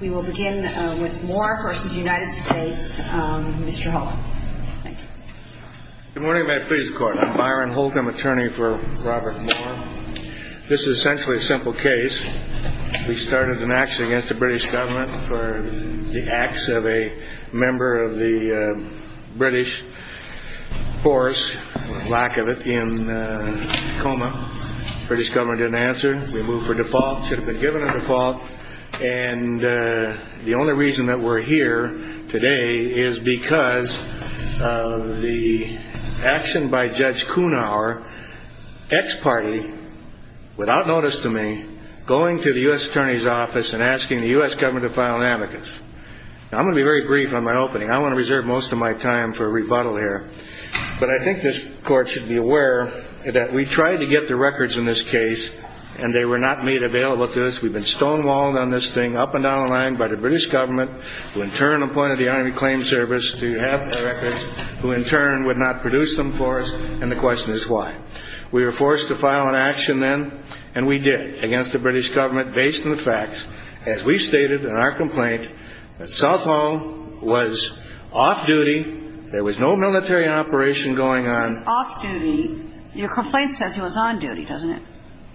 We will begin with Moore v. United States. Mr. Hall. Good morning. May it please the Court. I'm Byron Holt. I'm attorney for Robert Moore. This is essentially a simple case. We started an action against the British government for the acts of a member of the British force, lack of it, in Tacoma. British government didn't answer. We moved for default. Should have been given a default. And the only reason that we're here today is because of the action by Judge Kuhnauer, ex-party, without notice to me, going to the U.S. Attorney's Office and asking the U.S. government to file an amicus. Now, I'm going to be very brief on my opening. I want to reserve most of my time for rebuttal here. But I think this Court should be aware that we tried to get the records in this case, and they were not made available to us. We've been stonewalled on this thing up and down the line by the British government, who in turn appointed the Army Claims Service to have the records, who in turn would not produce them for us, and the question is why. We were forced to file an action then, and we did, against the British government, based on the facts, as we stated in our complaint, that Southall was off-duty. There was no military operation going on. He was off-duty. Your complaint says he was on-duty, doesn't it?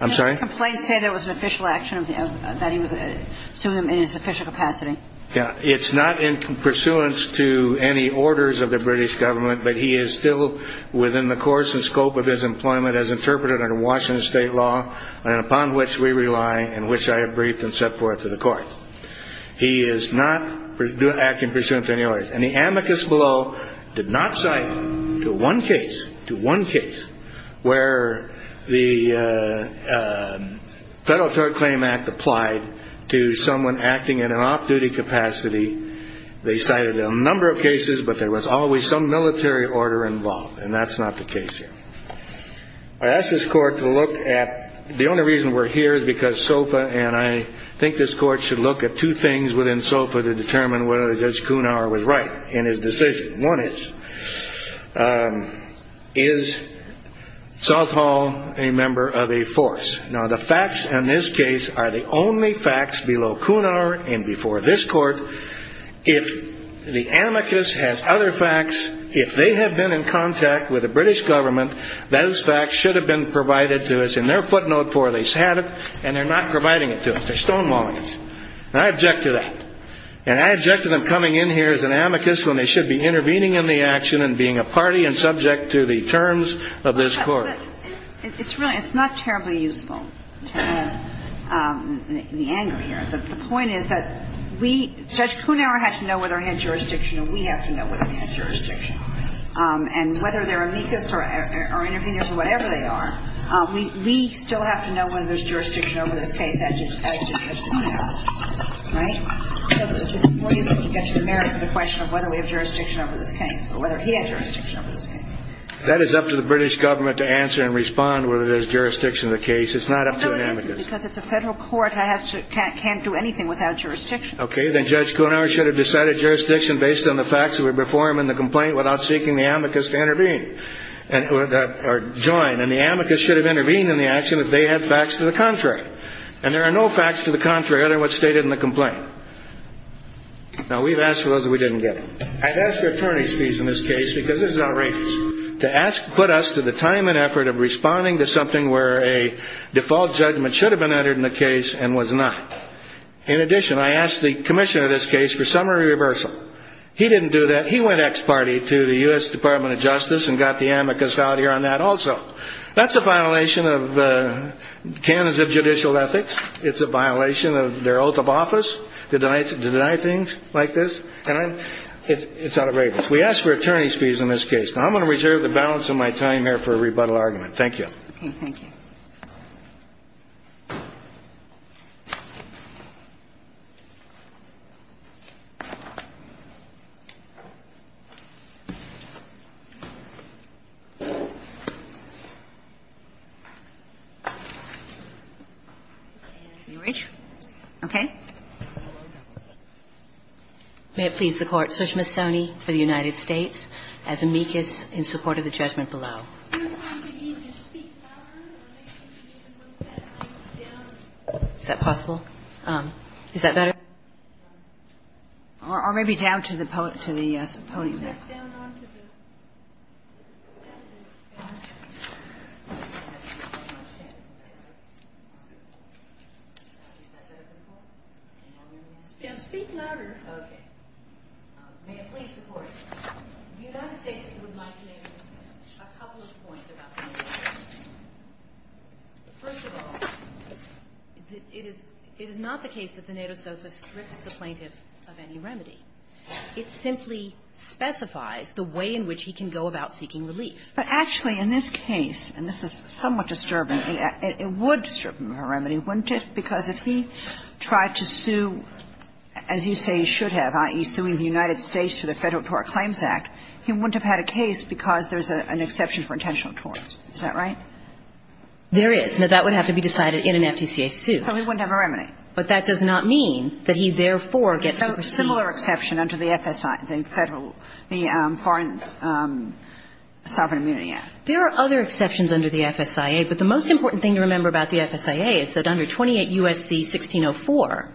I'm sorry? Didn't your complaint say there was an official action, that he was, assumed him in his official capacity? Yeah. It's not in pursuance to any orders of the British government, but he is still within the course and scope of his employment as interpreted under Washington State law, and upon which we rely, and which I have briefed and set forth to the Court. He is not acting pursuant to any orders, and the amicus below did not cite to one case, to one case, where the Federal Tort Claim Act applied to someone acting in an off-duty capacity. They cited a number of cases, but there was always some military order involved, and that's not the case here. I ask this Court to look at, the only reason we're here is because SOFA, and I think this Court should look at two things within SOFA to determine whether Judge Kunauer was right in his decision. One is, is Southall a member of a force? Now, the facts in this case are the only facts below Kunauer and before this Court. If the amicus has other facts, if they have been in contact with the British government, those facts should have been provided to us in their footnote where they sat it, and they're not providing it to us. They're stonewalling us. And I object to that. And I object to them coming in here as an amicus when they should be intervening in the action and being a party and subject to the terms of this Court. It's not terribly useful, the anger here, but the point is that we, Judge Kunauer had to know whether he had jurisdiction or we have to know whether he had jurisdiction. And whether they're amicus or intervenors or whatever they are, we still have to know whether there's jurisdiction over this case as did Judge Kunauer, right? So it's more useful to get to the merits of the question of whether we have jurisdiction over this case or whether he had jurisdiction over this case. That is up to the British government to answer and respond whether there's jurisdiction of the case. It's not up to an amicus. No, it isn't, because it's a Federal court that can't do anything without jurisdiction. Okay. Then Judge Kunauer should have decided jurisdiction based on the facts that were before him in the complaint without seeking the amicus to intervene or join. And the amicus should have intervened in the action if they had facts to the contrary. And there are no facts to the contrary other than what's stated in the complaint. Now, we've asked for those that we didn't get. I'd ask for attorney's fees in this case because this is outrageous, to put us to the time and effort of responding to something where a default judgment should have been entered in the case and was not. In addition, I asked the commissioner of this case for summary reversal. He didn't do that. He went ex parte to the U.S. Department of Justice and got the amicus out here on that also. That's a violation of the canons of judicial ethics. It's a violation of their oath of office to deny things like this. And it's outrageous. We asked for attorney's fees in this case. Now, I'm going to reserve the balance of my time here for a rebuttal argument. Thank you. Okay. Thank you. May it please the Court. Sushma Soni for the United States has amicus in support of the judgment below. Is that possible? Is that better? Or maybe down to the podium there. Speak louder. Okay. May it please the Court. The United States would like to make a couple of points about the amicus. First of all, it is not the case that the nato sofa strips the plaintiff of any remedy. It simply specifies the way in which he can go about seeking relief. But actually, in this case, and this is somewhat disturbing, it would strip him of a remedy, wouldn't it? Because if he tried to sue, as you say he should have, i.e., suing the United States for the Federal Tort Claims Act, he wouldn't have had a case because there's an exception for intentional torts. Is that right? There is. Now, that would have to be decided in an FTCA suit. So he wouldn't have a remedy. But that does not mean that he therefore gets to proceed. So similar exception under the FSI, the Federal, the Foreign Sovereign Immunity Act. There are other exceptions under the FSIA, but the most important thing to remember about the FSIA is that under 28 U.S.C. 1604,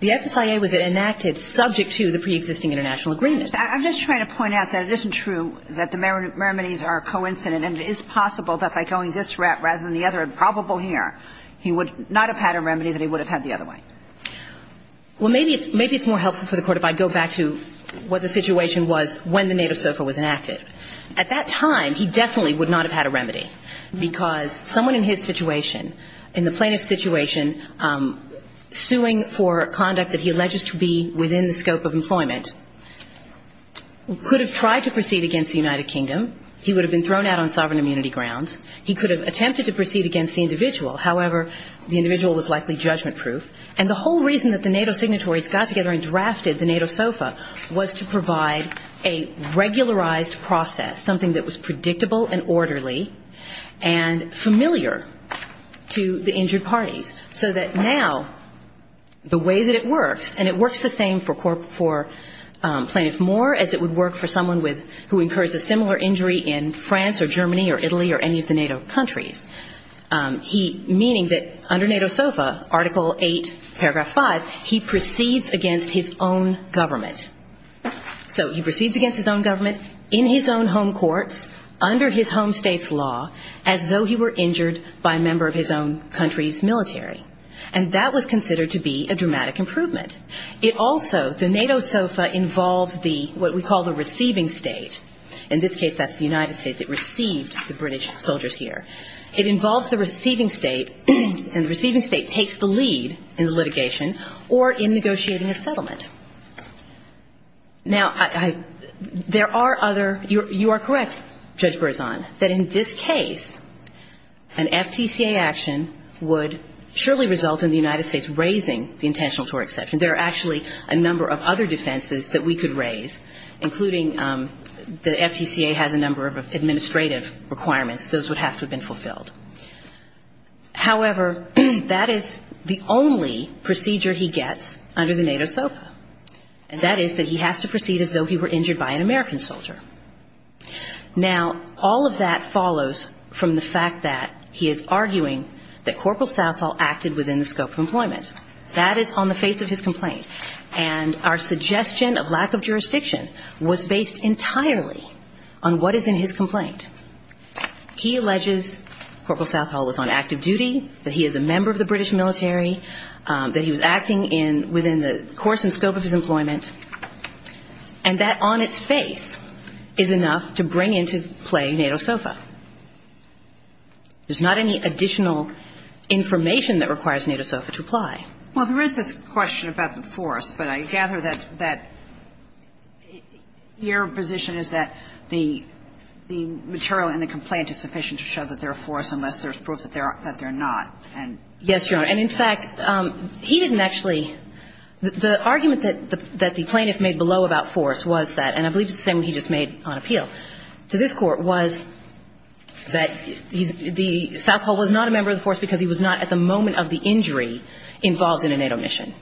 the FSIA was enacted subject to the preexisting international agreement. I'm just trying to point out that it isn't true that the remedies are coincident, and it is possible that by going this route rather than the other, it's probable here, he would not have had a remedy that he would have had the other way. Well, maybe it's more helpful for the Court if I go back to what the situation was when the nato sofa was enacted. At that time, he definitely would not have had a remedy because someone in his situation, in the plaintiff's situation, suing for conduct that he alleges to be within the scope of employment, could have tried to proceed against the United Kingdom. He would have been thrown out on sovereign immunity grounds. He could have attempted to proceed against the individual. However, the individual was likely judgment-proof. And the whole reason that the NATO signatories got together and drafted the NATO sofa was to provide a regularized process, something that was predictable and orderly and familiar to the injured parties, so that now the way that it works, and it works the same for Plaintiff Moore as it would work for someone who incurs a similar injury in France or Germany or Italy or any of the NATO countries, meaning that under NATO sofa, Article 8, Paragraph 5, he proceeds against his own government. So he proceeds against his own government in his own home courts under his home state's law as though he were injured by a member of his own country's military. And that was considered to be a dramatic improvement. It also, the NATO sofa involves what we call the receiving state. In this case, that's the United States. It received the British soldiers here. It involves the receiving state, and the receiving state takes the lead in litigation or in negotiating a settlement. Now, there are other you are correct, Judge Berzon, that in this case, an FTCA action would surely result in the United States raising the intentional tort exception. There are actually a number of other defenses that we could raise, including the FTCA has a number of administrative requirements. Those would have to have been fulfilled. However, that is the only procedure he gets under the NATO sofa. And that is that he has to proceed as though he were injured by an American soldier. Now, all of that follows from the fact that he is arguing that Corporal Southall acted within the scope of employment. That is on the face of his complaint. And our suggestion of lack of jurisdiction was based entirely on what is in his complaint. He alleges Corporal Southall was on active duty, that he is a member of the British military, that he was acting within the course and scope of his employment, and that on its face is enough to bring into play NATO sofa. There is not any additional information that requires NATO sofa to apply. Well, there is this question about the force, but I gather that your position is that the material in the complaint is sufficient to show that they are force unless there is proof that they are not. Yes, Your Honor. And in fact, he didn't actually – the argument that the plaintiff made below about force was that, and I believe it's the same one he just made on appeal to this Court, was that he's – the – Southall was not a member of the force because he was not at the moment of the injury involved in a NATO mission.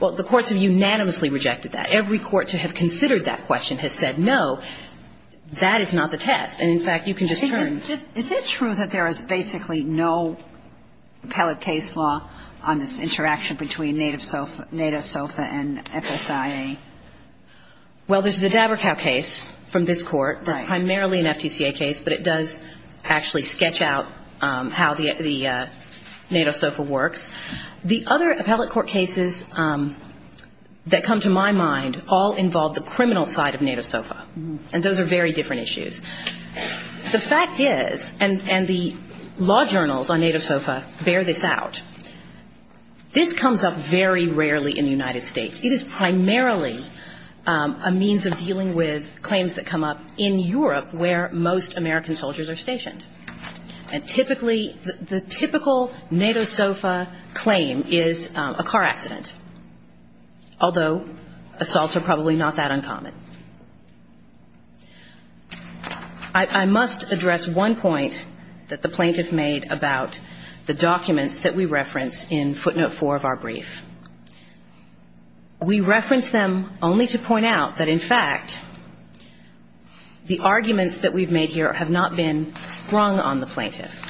Well, the courts have unanimously rejected that. Every court to have considered that question has said no. That is not the test. And in fact, you can just turn – Is it true that there is basically no appellate case law on this interaction between NATO sofa and FSIA? Well, there's the Dabercow case from this Court that's primarily an FTCA case, but it does actually sketch out how the NATO sofa works. The other appellate court cases that come to my mind all involve the criminal side of NATO sofa, and those are very different issues. The fact is, and the law journals on NATO sofa bear this out, this comes up very rarely in the United States. It is primarily a means of dealing with claims that come up in Europe where most American soldiers are stationed. And typically, the typical NATO sofa claim is a car accident, although assaults are probably not that uncommon. I must address one point that the plaintiff made about the documents that we reference in footnote four of our brief. We reference them only to point out that, in fact, the arguments that we've made here have not been sprung on the plaintiff.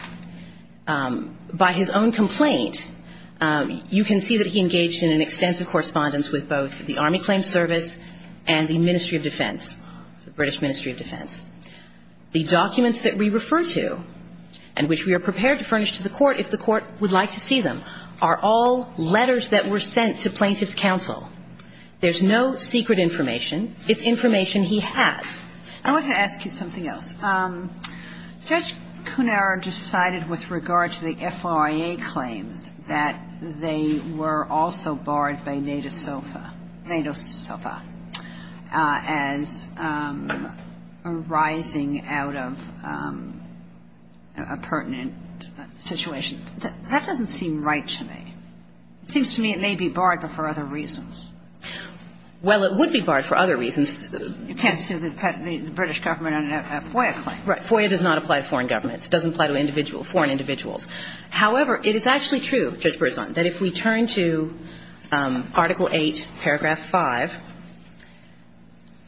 By his own complaint, you can see that he engaged in an extensive correspondence with both the Army Claims Service and the Ministry of Defense, the British Ministry of Defense. The documents that we refer to and which we are prepared to furnish to the Court if the Court would like to see them are all letters that were sent to plaintiff's counsel. There's no secret information. It's information he has. I want to ask you something else. Judge Cunaro decided with regard to the FIA claims that they were also barred by NATO sofa as arising out of a pertinent situation. That doesn't seem right to me. It seems to me it may be barred, but for other reasons. Well, it would be barred for other reasons. You can't say that the British government had a FOIA claim. Right. FOIA does not apply to foreign governments. It doesn't apply to individual foreign individuals. However, it is actually true, Judge Berzon, that if we turn to Article VIII, Paragraph 5,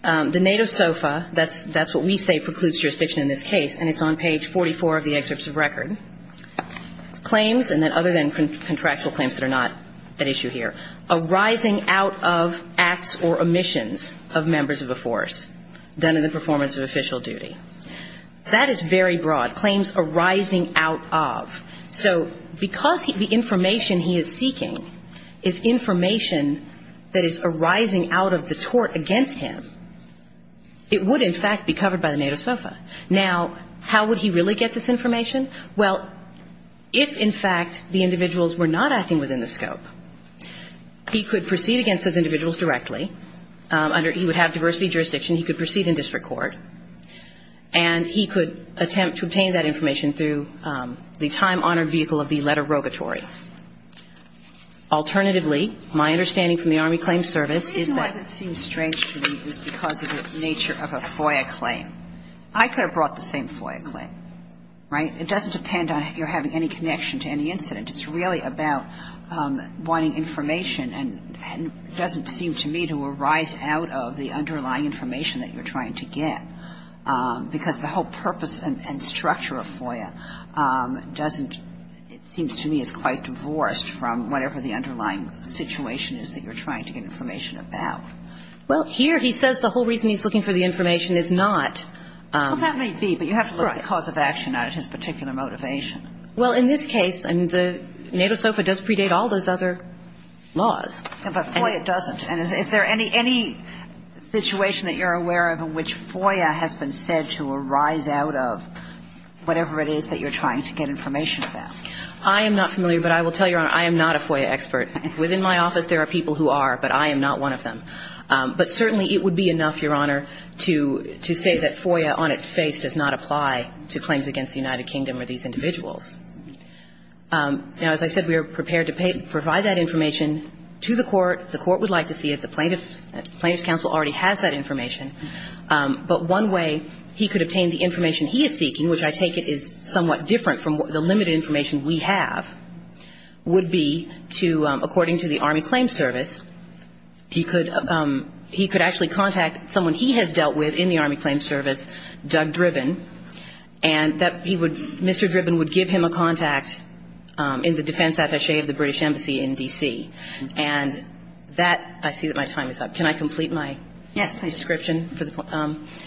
the NATO sofa, that's what we say precludes jurisdiction in this case, and it's on page 44 of the excerpt of record, claims, and then other than contractual claims that are not at issue here, arising out of acts or omissions of members of a force done in the performance of official duty. That is very broad. It's not claims arising out of. So because the information he is seeking is information that is arising out of the tort against him, it would, in fact, be covered by the NATO sofa. Now, how would he really get this information? Well, if, in fact, the individuals were not acting within the scope, he could proceed against those individuals directly under he would have diversity jurisdiction. He could proceed in district court. And he could attempt to obtain that information through the time-honored vehicle of the letter rogatory. Alternatively, my understanding from the Army Claims Service is that the reason why that seems strange to me is because of the nature of a FOIA claim. I could have brought the same FOIA claim, right? It doesn't depend on if you're having any connection to any incident. It's really about wanting information and doesn't seem to me to arise out of the underlying information that you're trying to get. Because the whole purpose and structure of FOIA doesn't, it seems to me, is quite divorced from whatever the underlying situation is that you're trying to get information about. Well, here he says the whole reason he's looking for the information is not. Well, that may be. But you have to look at the cause of action out of his particular motivation. Well, in this case, and the NATO sofa does predate all those other laws. But FOIA doesn't. And is there any situation that you're aware of in which FOIA has been said to arise out of whatever it is that you're trying to get information about? I am not familiar. But I will tell you, Your Honor, I am not a FOIA expert. Within my office there are people who are, but I am not one of them. But certainly it would be enough, Your Honor, to say that FOIA on its face does not apply to claims against the United Kingdom or these individuals. Now, as I said, we are prepared to provide that information to the court. The court would like to see it. The Plaintiffs' Counsel already has that information. But one way he could obtain the information he is seeking, which I take it is somewhat different from the limited information we have, would be to, according to the Army Claims Service, he could actually contact someone he has dealt with in the Army Claims Service, Doug Driven, and that he would Mr. Driven would give him a contact in the Defense Attaché of the British Embassy in D.C. And that, I see that my time is up. Can I complete my description? Yes, please.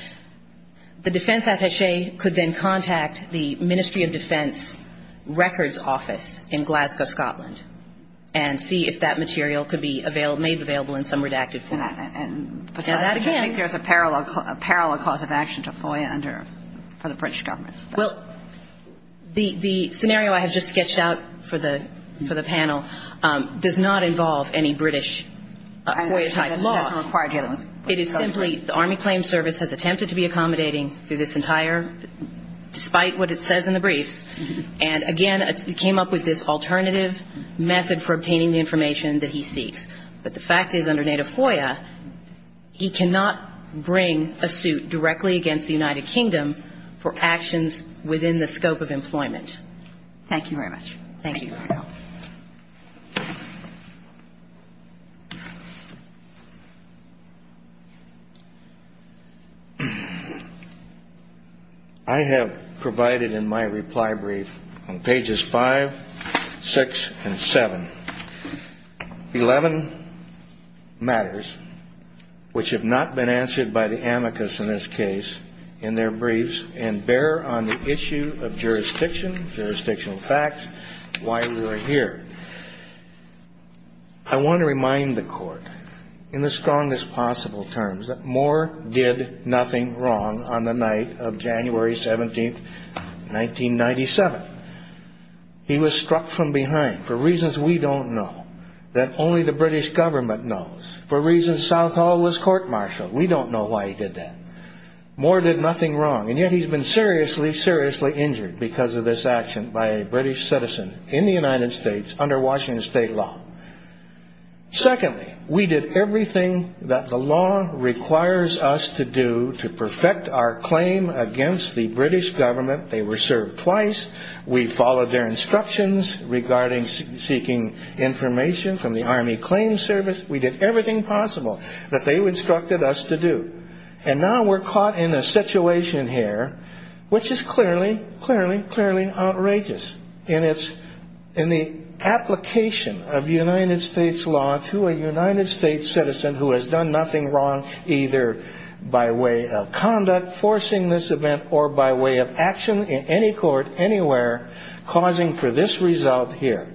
The Defense Attaché could then contact the Ministry of Defense Records Office in Glasgow, Scotland, and see if that material could be made available in some redacted form. And besides, I don't think there is a parallel cause of action to FOIA under, for the British Government. Well, the scenario I have just sketched out for the panel does not involve any British FOIA-type law. It is simply the Army Claims Service has attempted to be accommodating through this entire, despite what it says in the briefs, and, again, it came up with this alternative method for obtaining the information that he seeks. But the fact is, under native FOIA, he cannot bring a suit directly against the Americans within the scope of employment. Thank you very much. Thank you. I have provided in my reply brief on pages 5, 6, and 7, 11 matters which have not been answered by the amicus in this case, in their briefs, and bear on the issue of jurisdiction, jurisdictional facts, why we are here. I want to remind the Court, in the strongest possible terms, that Moore did nothing wrong on the night of January 17, 1997. He was struck from behind for reasons we don't know, that only the British Government knows. For reasons Southall was court-martialed. We don't know why he did that. Moore did nothing wrong, and yet he's been seriously, seriously injured because of this action by a British citizen in the United States under Washington State law. Secondly, we did everything that the law requires us to do to perfect our claim against the British Government. They were served twice. We followed their instructions regarding seeking information from the Army Claim Service. We did everything possible that they instructed us to do. And now we're caught in a situation here which is clearly, clearly, clearly outrageous in the application of United States law to a United States citizen who has done nothing wrong either by way of conduct forcing this event or by way of action in any court anywhere causing for this result here.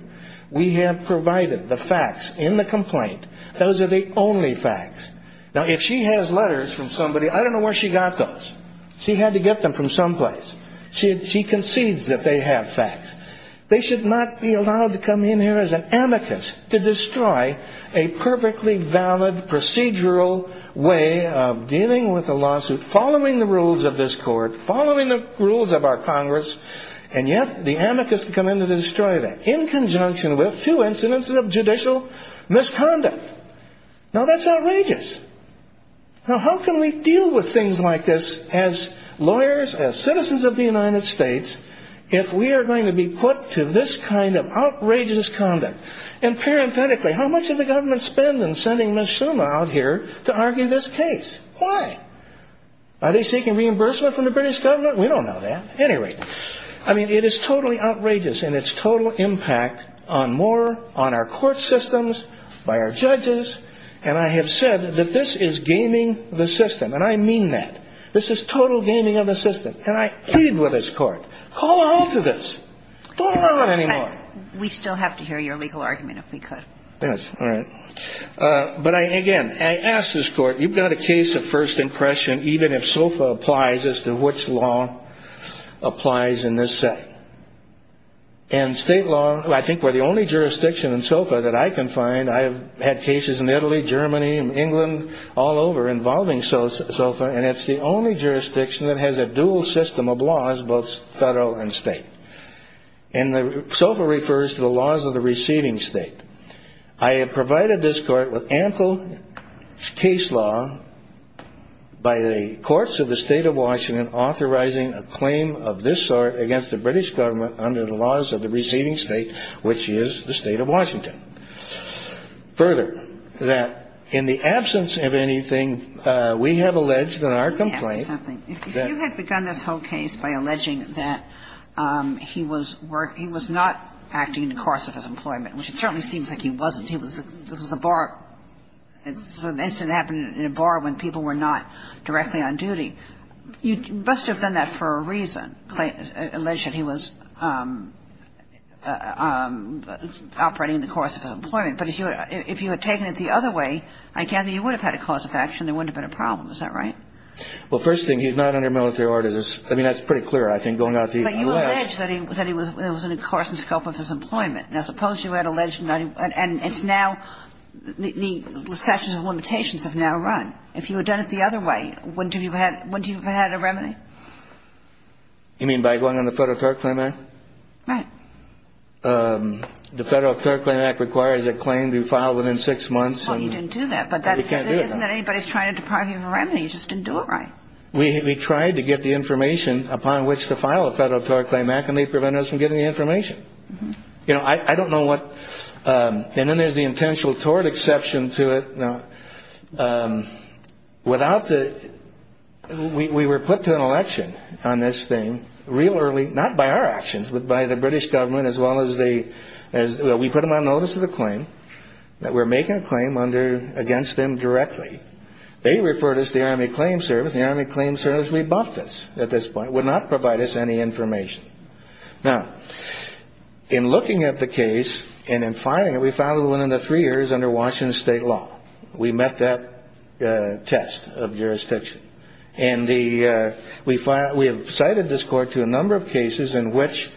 We have provided the facts in the complaint. Those are the only facts. Now, if she has letters from somebody, I don't know where she got those. She had to get them from someplace. She concedes that they have facts. They should not be allowed to come in here as an amicus to destroy a perfectly valid procedural way of dealing with a lawsuit, following the rules of this Congress, and yet the amicus come in to destroy that in conjunction with two incidents of judicial misconduct. Now, that's outrageous. Now, how can we deal with things like this as lawyers, as citizens of the United States, if we are going to be put to this kind of outrageous conduct? And parenthetically, how much did the government spend in sending Ms. Suma out here to argue this case? Why? Are they seeking reimbursement from the British Government? We don't know that. At any rate, I mean, it is totally outrageous. And it's total impact on more, on our court systems, by our judges. And I have said that this is gaming the system. And I mean that. This is total gaming of the system. And I plead with this Court, call a halt to this. Don't allow it anymore. We still have to hear your legal argument, if we could. Yes, all right. But, again, I ask this Court, you've got a case of first impression, even if SOFA applies as to which law applies in this setting. And state law, I think we're the only jurisdiction in SOFA that I can find. I have had cases in Italy, Germany, and England, all over, involving SOFA. And it's the only jurisdiction that has a dual system of laws, both federal and state. And SOFA refers to the laws of the receiving state. I have provided this Court with ample case law by the courts of the State of Washington authorizing a claim of this sort against the British government under the laws of the receiving state, which is the State of Washington. Further, that in the absence of anything we have alleged in our complaint. Yes, something. If you had begun this whole case by alleging that he was not acting in the course of his employment, which it certainly seems like he wasn't, it was a bar, it's an incident that happened in a bar when people were not directly on duty, you must have done that for a reason, alleged that he was operating in the course of his employment. But if you had taken it the other way, I gather you would have had a cause of action, there wouldn't have been a problem. Is that right? Well, first thing, he's not under military orders. I mean, that's pretty clear, I think, going out to the U.S. But you allege that it was in the course and scope of his employment. Now, suppose you had alleged, and it's now, the sections of limitations have now run. If you had done it the other way, wouldn't you have had a remedy? You mean by going on the Federal Court Claim Act? Right. The Federal Court Claim Act requires a claim to be filed within six months. Well, you didn't do that. But you can't do that. Isn't that anybody's trying to deprive you of a remedy? You just didn't do it right. We tried to get the information upon which to file a Federal Court Claim Act, and they prevented us from getting the information. You know, I don't know what – and then there's the intentional tort exception to it. Now, without the – we were put to an election on this thing real early, not by our actions, but by the British government as well as the – we put them on notice of the claim, that we're making a claim under – against them directly. They referred us to the Army Claim Service. The Army Claim Service rebuffed us at this point, would not provide us any information. Now, in looking at the case and in filing it, we found it within the three years under Washington state law. We met that test of jurisdiction. And the – we have cited this court to a number of cases in which,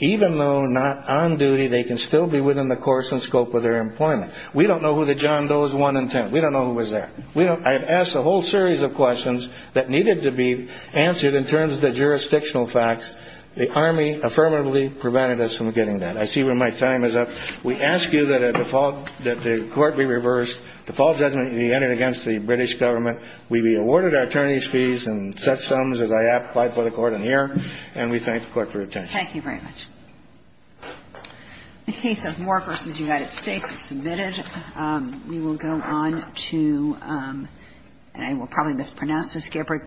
even though not on duty, they can still be within the course and scope of their employment. We don't know who the John Doe is 1 and 10. We don't know who was there. We don't – I have asked a whole series of questions that needed to be answered in terms of the jurisdictional facts. The Army affirmatively prevented us from getting that. I see where my time is up. We ask you that a default – that the court be reversed. Default judgment be entered against the British government. We be awarded our attorneys' fees in such sums as I have applied for the court in here. And we thank the Court for its attention. Thank you very much. The case of Moore v. United States is submitted. We will go on to – and I will probably mispronounce this.